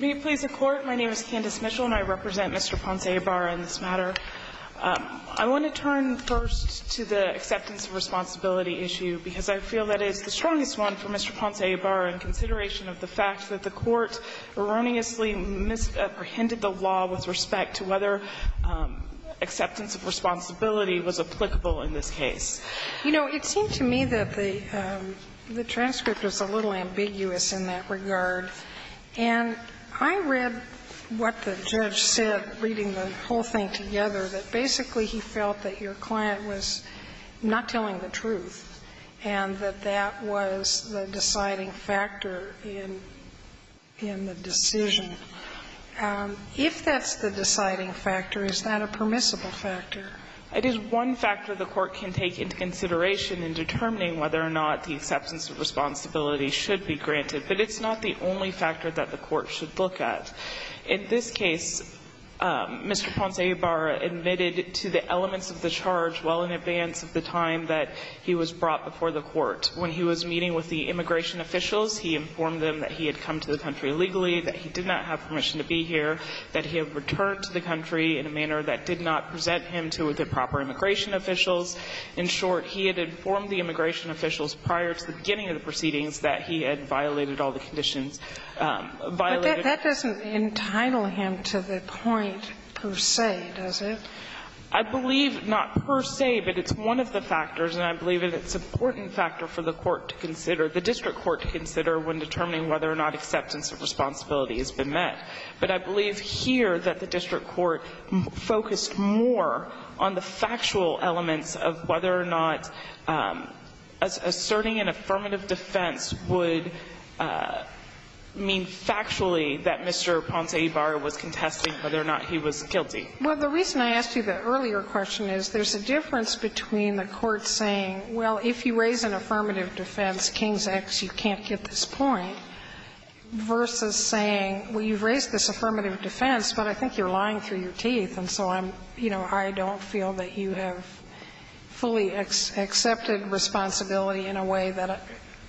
May it please the Court, my name is Candace Mitchell and I represent Mr. Ponce Ibarra in this matter. I want to turn first to the acceptance of responsibility issue, because I feel that it's the strongest one for Mr. Ponce Ibarra in consideration of the fact that the Court erroneously misapprehended the law with respect to whether acceptance of responsibility was applicable in this case. You know, it seemed to me that the transcript was a little ambiguous in that regard. And I read what the judge said, reading the whole thing together, that basically he felt that your client was not telling the truth and that that was the deciding factor in the decision. If that's the deciding factor, is that a permissible factor? It is one factor the Court can take into consideration in determining whether or not the acceptance of responsibility should be granted, but it's not the only factor that the Court should look at. In this case, Mr. Ponce Ibarra admitted to the elements of the charge well in advance of the time that he was brought before the Court. When he was meeting with the immigration officials, he informed them that he had come to the country legally, that he did not have permission to be here, that he had returned to the country in a manner that did not present him to the proper immigration officials. In short, he had informed the immigration officials prior to the beginning of the proceedings that he had violated all the conditions violated. But that doesn't entitle him to the point per se, does it? I believe not per se, but it's one of the factors, and I believe that it's an important factor for the Court to consider, the district court to consider, when determining whether or not acceptance of responsibility has been met. But I believe here that the district court focused more on the factual elements of whether or not asserting an affirmative defense would mean factually that Mr. Ponce Ibarra was contesting whether or not he was guilty. Well, the reason I asked you the earlier question is there's a difference between the Court saying, well, if you raise an affirmative defense, King's X, you can't get this point, versus saying, well, you've raised this affirmative defense, but I think you're lying through your teeth, and so I'm, you know, I don't feel that you have fully accepted responsibility in a way that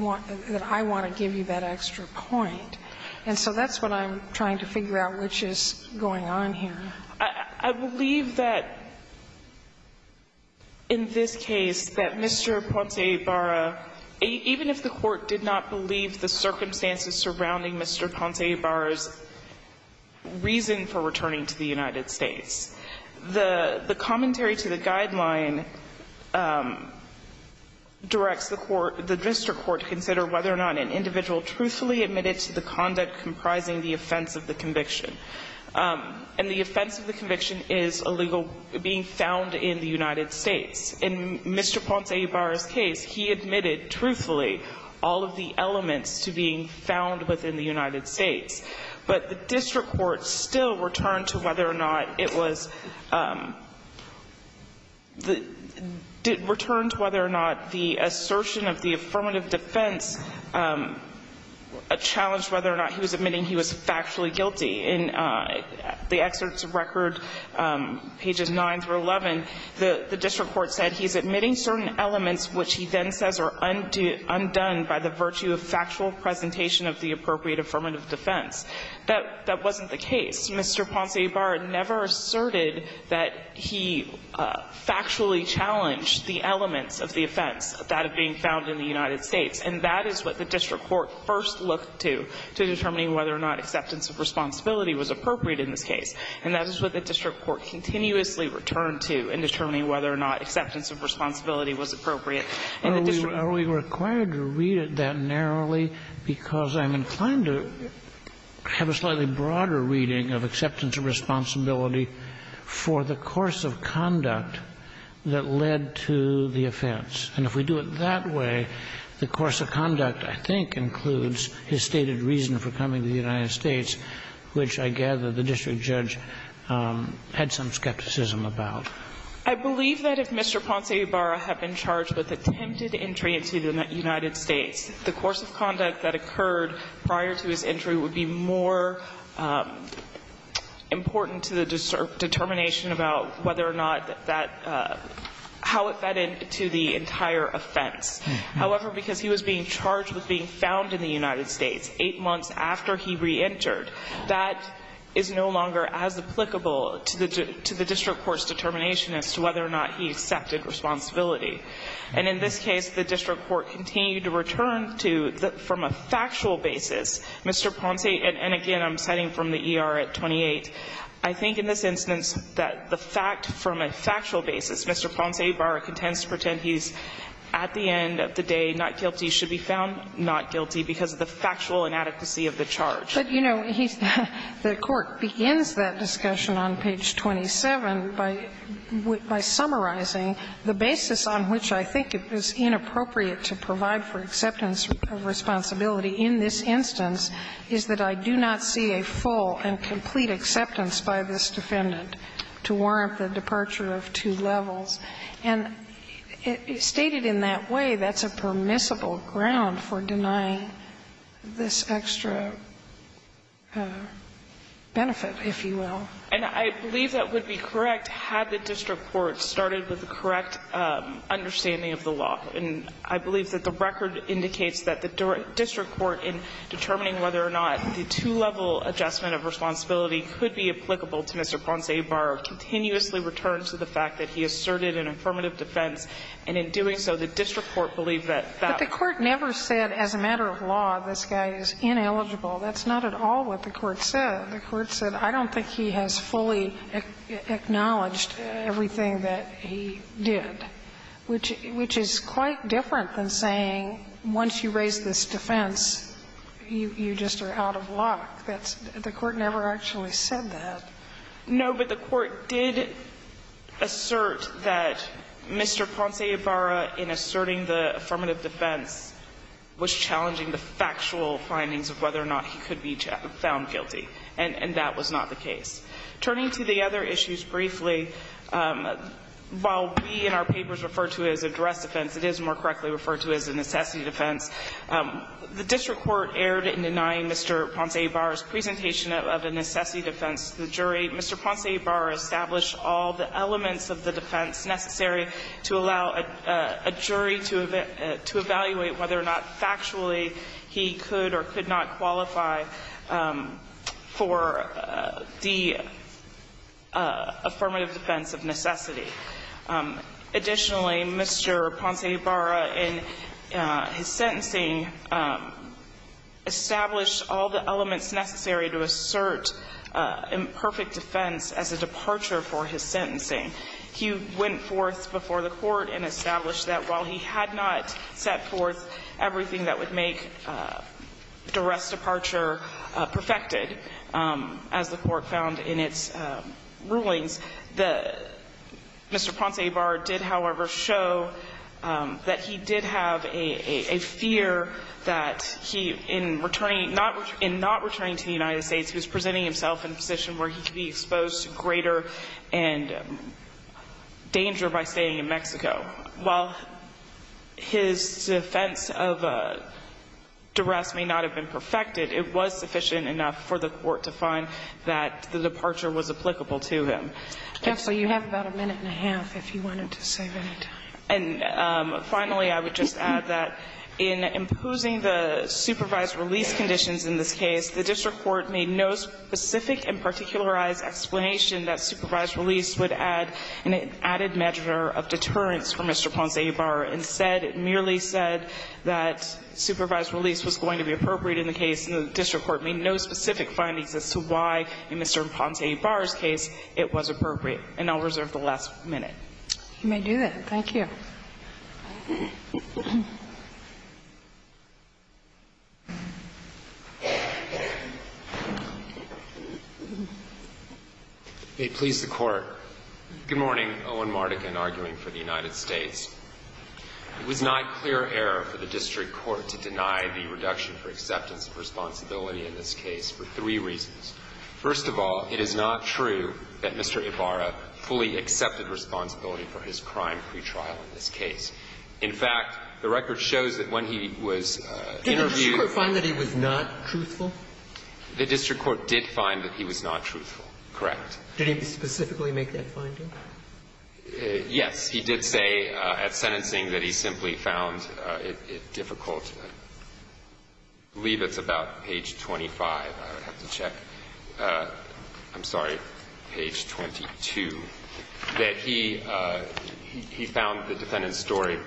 I want to give you that extra point. And so that's what I'm trying to figure out, which is going on here. I believe that in this case, that Mr. Ponce Ibarra, even if the Court did not believe the circumstances surrounding Mr. Ponce Ibarra's reason for returning to the United States, the commentary to the guideline directs the court, the district court, to consider whether or not an individual truthfully admitted to the conduct comprising the offense of the conviction. And the offense of the conviction is a legal being found in the United States. In Mr. Ponce Ibarra's case, he admitted truthfully all of the elements to being found within the United States. But the district court still returned to whether or not it was the – returned to whether or not the assertion of the affirmative defense challenged whether or not he was admitting he was factually guilty. In the excerpts of record, pages 9 through 11, the district court said he's admitting certain elements which he then says are undone by the virtue of factual presentation of the appropriate affirmative defense. That wasn't the case. Mr. Ponce Ibarra never asserted that he factually challenged the elements of the offense that are being found in the United States. And that is what the district court first looked to, to determining whether or not acceptance of responsibility was appropriate in this case. And that is what the district court continuously returned to in determining whether or not acceptance of responsibility was appropriate in the district. Are we required to read it that narrowly, because I'm inclined to have a slightly broader reading of acceptance of responsibility for the course of conduct that led to the offense. And if we do it that way, the course of conduct, I think, includes his stated reason for coming to the United States, which I gather the district judge had some skepticism about. I believe that if Mr. Ponce Ibarra had been charged with attempted entry into the United States, the course of conduct that occurred prior to his entry would be more important to the determination about whether or not that, how it fed into the entire offense. However, because he was being charged with being found in the United States eight months after he reentered, that is no longer as applicable to the district court's determination as to whether or not he accepted responsibility. And in this case, the district court continued to return to, from a factual basis, Mr. Ponce, and again, I'm citing from the ER at 28. I think in this instance that the fact from a factual basis, Mr. Ponce Ibarra contends to pretend he's at the end of the day not guilty, should be found not guilty because of the factual inadequacy of the charge. But, you know, he's the court begins that discussion on page 27 by summarizing the basis on which I think it is inappropriate to provide for acceptance of responsibility in this instance is that I do not see a full and complete acceptance by this defendant to warrant the departure of two levels. And stated in that way, that's a permissible ground for denying this extra benefit, if you will. And I believe that would be correct had the district court started with the correct understanding of the law. And I believe that the record indicates that the district court in determining whether or not the two-level adjustment of responsibility could be applicable to Mr. Ponce Ibarra continuously returns to the fact that he asserted an affirmative defense, and in doing so, the district court believed that that was not true. But the court never said as a matter of law, this guy is ineligible. That's not at all what the court said. The court said, I don't think he has fully acknowledged everything that he did, which is quite different than saying once you raise this defense, you just are out of luck. That's the court never actually said that. No, but the court did assert that Mr. Ponce Ibarra, in asserting the affirmative defense, was challenging the factual findings of whether or not he could be found guilty, and that was not the case. Turning to the other issues briefly, while we in our papers refer to it as a duress defense, it is more correctly referred to as a necessity defense. The district court erred in denying Mr. Ponce Ibarra's presentation of a necessity defense to the jury. Mr. Ponce Ibarra established all the elements of the defense necessary to allow a jury to evaluate whether or not, factually, he could or could not qualify for the affirmative defense of necessity. Additionally, Mr. Ponce Ibarra, in his sentencing, established all the elements necessary to assert imperfect defense as a departure for his sentencing. He went forth before the Court and established that while he had not set forth everything that would make duress departure perfected, as the Court found in its rulings, the Mr. Ponce Ibarra did, however, show that he did have a fear that he, in not returning to the United States, he was presenting himself in a position where he could be exposed to greater danger by staying in Mexico. While his defense of duress may not have been perfected, it was sufficient enough for the Court to find that the departure was applicable to him. Absolutely. You have about a minute and a half if you wanted to save any time. And finally, I would just add that in imposing the supervised release conditions in this case, the district court made no specific and particularized explanation that supervised release would add an added measure of deterrence for Mr. Ponce Ibarra. Instead, it merely said that supervised release was going to be appropriate in the case, and the district court made no specific findings as to why, in Mr. Ponce Ibarra's case, it was appropriate. And I'll reserve the last minute. You may do that. Thank you. May it please the Court. Good morning. Owen Mardigan, arguing for the United States. It was not clear error for the district court to deny the reduction for acceptance of responsibility in this case for three reasons. First of all, it is not true that Mr. Ibarra fully accepted responsibility for his crime pretrial in this case. In fact, the record shows that when he was interviewed the district court did find that he was not truthful, correct? Did he specifically make that finding? Yes. He did say at sentencing that he simply found it difficult. I believe it's about page 25. I would have to check. I'm sorry, page 22, that he found the defendant's story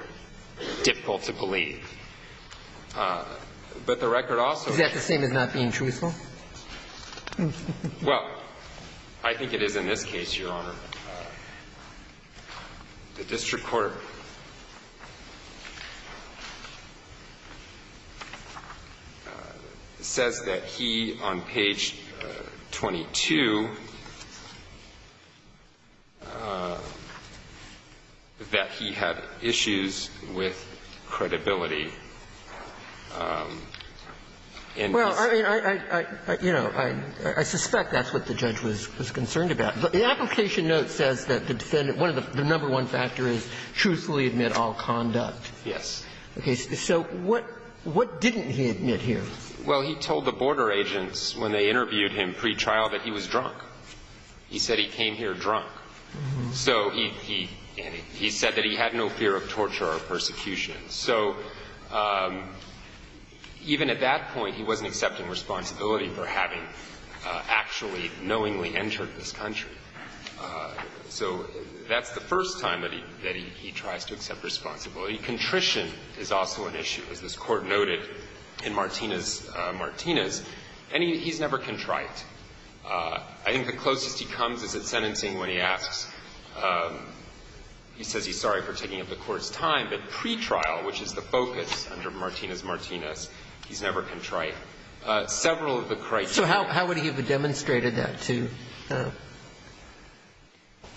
difficult to believe. But the record also ---- Is that the same as not being truthful? Well, I think it is in this case, Your Honor. The district court says that he, on page 22, that he had issues with credibility in this case. Well, I mean, I suspect that's what the judge was concerned about. The application note says that the defendant one of the number one factors is truthfully admit all conduct. Yes. Okay. So what didn't he admit here? Well, he told the border agents when they interviewed him pretrial that he was drunk. He said he came here drunk. So he said that he had no fear of torture or persecution. So even at that point, he wasn't accepting responsibility for having actually knowingly entered this country. So that's the first time that he tries to accept responsibility. Contrition is also an issue, as this Court noted in Martinez-Martinez. And he's never contrite. I think the closest he comes is at sentencing when he asks. He says he's sorry for taking up the Court's time. But pretrial, which is the focus under Martinez-Martinez, he's never contrite. Several of the criteria ---- But he demonstrated that to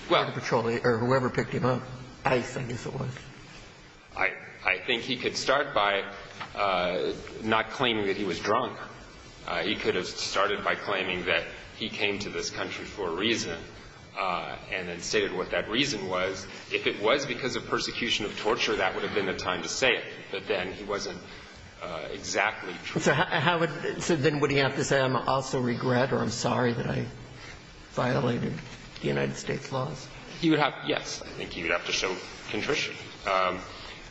Border Patrol or whoever picked him up, I think, if it was. I think he could start by not claiming that he was drunk. He could have started by claiming that he came to this country for a reason and then stated what that reason was. If it was because of persecution of torture, that would have been the time to say But then he wasn't exactly true. So how would ---- so then would he have to say, I'm also regret or I'm sorry that I violated the United States laws? He would have, yes. I think he would have to show contrition.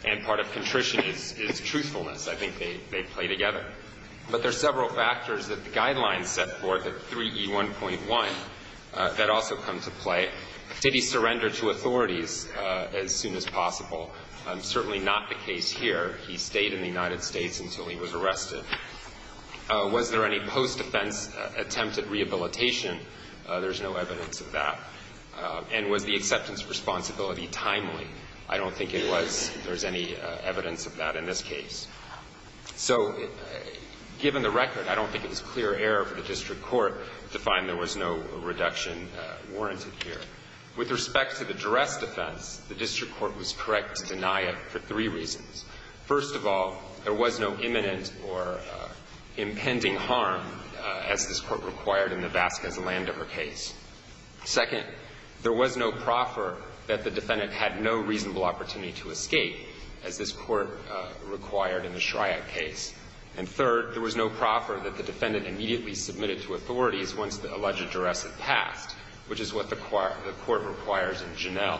And part of contrition is truthfulness. I think they play together. But there are several factors that the Guidelines set forth at 3E1.1 that also come to play. Did he surrender to authorities as soon as possible? Certainly not the case here. He stayed in the United States until he was arrested. Was there any post-defense attempt at rehabilitation? There's no evidence of that. And was the acceptance responsibility timely? I don't think it was. There's any evidence of that in this case. So given the record, I don't think it was clear error for the district court to find there was no reduction warranted here. With respect to the duress defense, the district court was correct to deny it for three reasons. First of all, there was no imminent or impending harm, as this Court required in the Vasquez-Landover case. Second, there was no proffer that the defendant had no reasonable opportunity to escape, as this Court required in the Shryack case. And third, there was no proffer that the defendant immediately submitted to authorities once the alleged duress had passed, which is what the Court requires in Genel.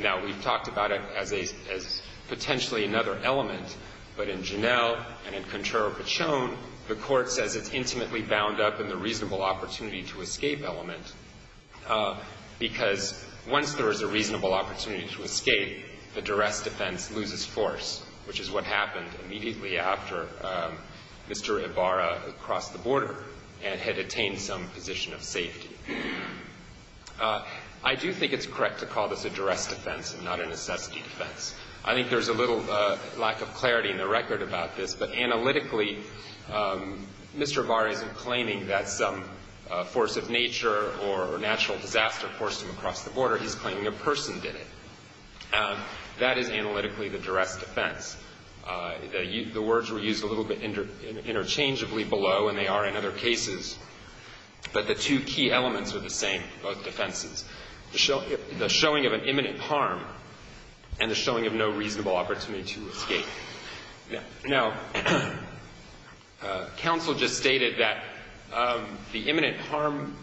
Now, we've talked about it as a — as potentially another element, but in Genel and in Contrero-Pachon, the Court says it's intimately bound up in the reasonable opportunity-to-escape element, because once there is a reasonable opportunity to escape, the duress defense loses force, which is what happened immediately after Mr. Ibarra had crossed the border and had attained some position of safety. I do think it's correct to call this a duress defense and not a necessity defense. I think there's a little lack of clarity in the record about this, but analytically, Mr. Ibarra isn't claiming that some force of nature or natural disaster forced him across the border. He's claiming a person did it. That is analytically the duress defense. The words were used a little bit interchangeably below, and they are in other words, the two elements were the same, both defenses. The showing of an imminent harm and the showing of no reasonable opportunity to escape. Now, counsel just stated that the imminent harm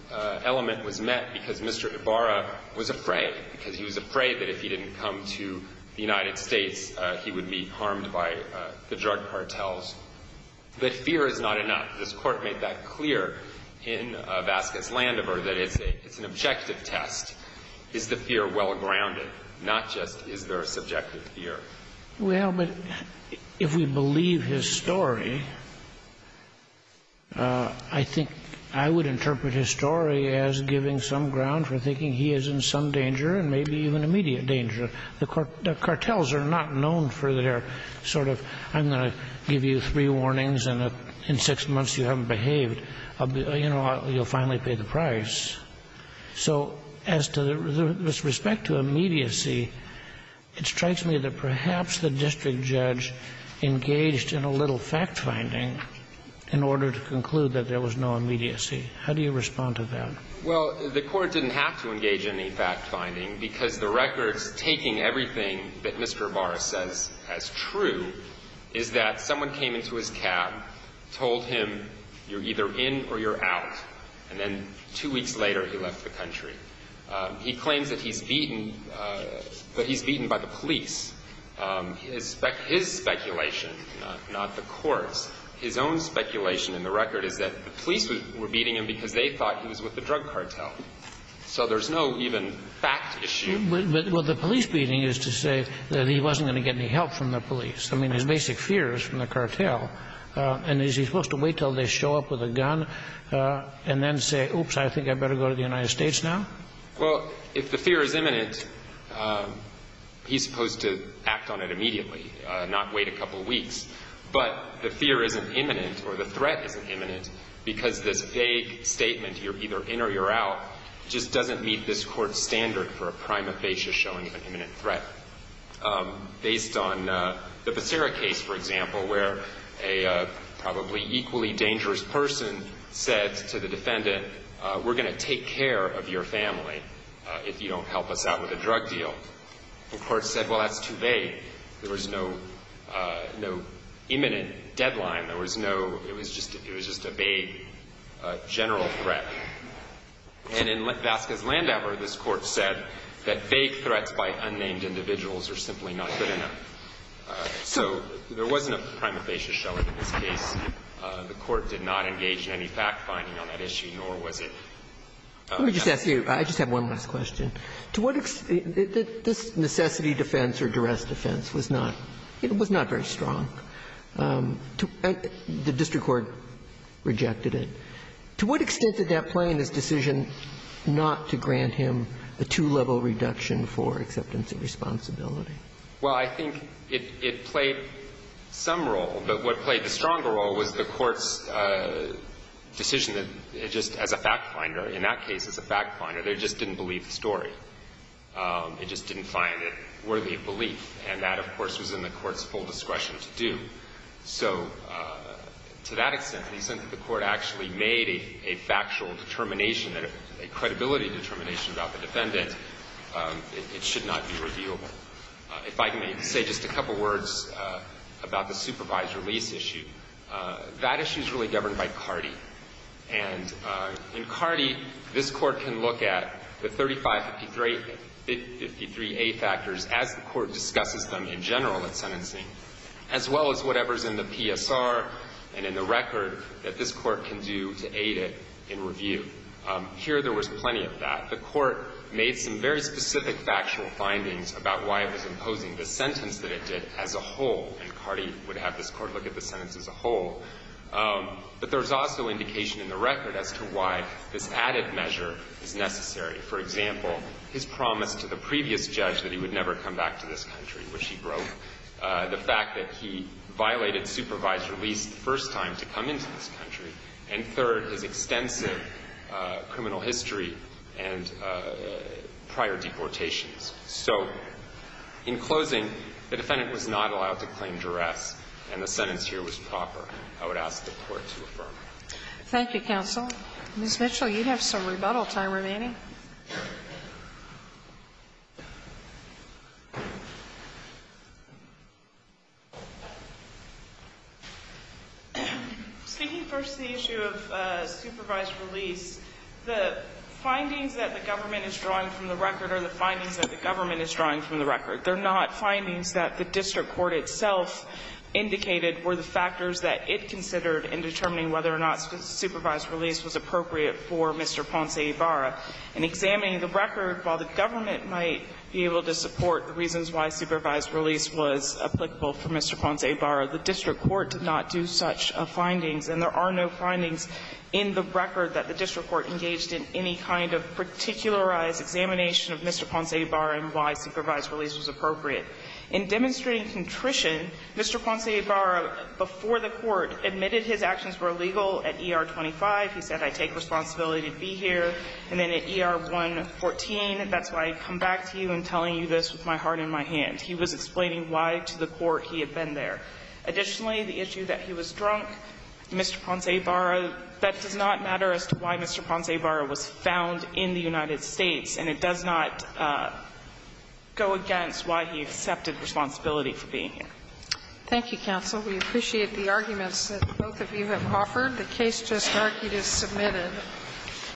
element was met because Mr. Ibarra was afraid, because he was afraid that if he didn't come to the United States, he would be harmed by the drug cartels. But fear is not enough. This Court made that clear in Vasquez-Landover, that it's an objective test. Is the fear well-grounded, not just is there a subjective fear? Well, but if we believe his story, I think I would interpret his story as giving some ground for thinking he is in some danger and maybe even immediate danger. The cartels are not known for their sort of, I'm going to give you three warnings and in six months you haven't behaved, you know, you'll finally pay the price. So as to the respect to immediacy, it strikes me that perhaps the district judge engaged in a little fact-finding in order to conclude that there was no immediacy. How do you respond to that? Well, the Court didn't have to engage in any fact-finding, because the record's taking everything that Mr. Barr says as true is that someone came into his cab, told him you're either in or you're out, and then two weeks later he left the country. He claims that he's beaten, but he's beaten by the police. His speculation, not the Court's, his own speculation in the record is that the police were beating him because they thought he was with the drug cartel. So there's no even fact issue. Well, the police beating is to say that he wasn't going to get any help from the police. I mean, his basic fear is from the cartel. And is he supposed to wait until they show up with a gun and then say, oops, I think I'd better go to the United States now? Well, if the fear is imminent, he's supposed to act on it immediately, not wait a couple weeks. But the fear isn't imminent or the threat isn't imminent because this vague statement you're either in or you're out just doesn't meet this Court's standard for a prima facie showing of an imminent threat. Based on the Becerra case, for example, where a probably equally dangerous person said to the defendant, we're going to take care of your family if you don't help us out with a drug deal. The Court said, well, that's too vague. There was no imminent deadline. There was no – it was just a vague general threat. And in Vasquez-Landauber, this Court said that vague threats by unnamed individuals are simply not good enough. So there wasn't a prima facie showing in this case. The Court did not engage in any fact-finding on that issue, nor was it an imminent threat. Let me just ask you – I just have one last question. To what – this necessity defense or duress defense was not – it was not very strong. The district court rejected it. To what extent did that play in this decision not to grant him the two-level reduction for acceptance of responsibility? Well, I think it played some role, but what played the stronger role was the Court's decision that it just – as a fact-finder, in that case, as a fact-finder, they just didn't believe the story. It just didn't find it worthy of belief. And that, of course, was in the Court's full discretion to do. So to that extent, in the sense that the Court actually made a factual determination and a credibility determination about the defendant, it should not be revealable. If I can say just a couple words about the supervisor lease issue, that issue is really governed by CARDI. And in CARDI, this Court can look at the 3553A factors as the Court discussed them in general at sentencing, as well as whatever's in the PSR and in the record that this Court can do to aid it in review. Here, there was plenty of that. The Court made some very specific factual findings about why it was imposing the sentence that it did as a whole, and CARDI would have this Court look at the sentence as a whole. But there's also indication in the record as to why this added measure is necessary. For example, his promise to the previous judge that he would never come back to this country, which he broke, the fact that he violated supervisor lease the first time to come into this country, and third, his extensive criminal history and prior deportations. So in closing, the defendant was not allowed to claim duress, and the sentence here was proper, I would ask the Court to affirm. Thank you, counsel. Ms. Mitchell, you have some rebuttal time remaining. Speaking first to the issue of supervised release, the findings that the government is drawing from the record are the findings that the government is drawing from the record. They're not findings that the district court itself indicated were the factors that it considered in determining whether or not supervised release was appropriate for Mr. Ponce de Barra. In examining the record, while the government might be able to support the reasons why supervised release was applicable for Mr. Ponce de Barra, the district court did not do such findings, and there are no findings in the record that the district court engaged in any kind of particularized examination of Mr. Ponce de Barra and why supervised release was appropriate. In demonstrating contrition, Mr. Ponce de Barra, before the court, admitted his actions were illegal at ER 25. He said, I take responsibility to be here. And then at ER 114, that's why I come back to you and telling you this with my heart and my hand, he was explaining why to the court he had been there. Additionally, the issue that he was drunk, Mr. Ponce de Barra, that does not matter as to why Mr. Ponce de Barra was found in the United States, and it does not go against why he accepted responsibility for being here. Thank you, counsel. We appreciate the arguments that both of you have offered. The case just argued is submitted.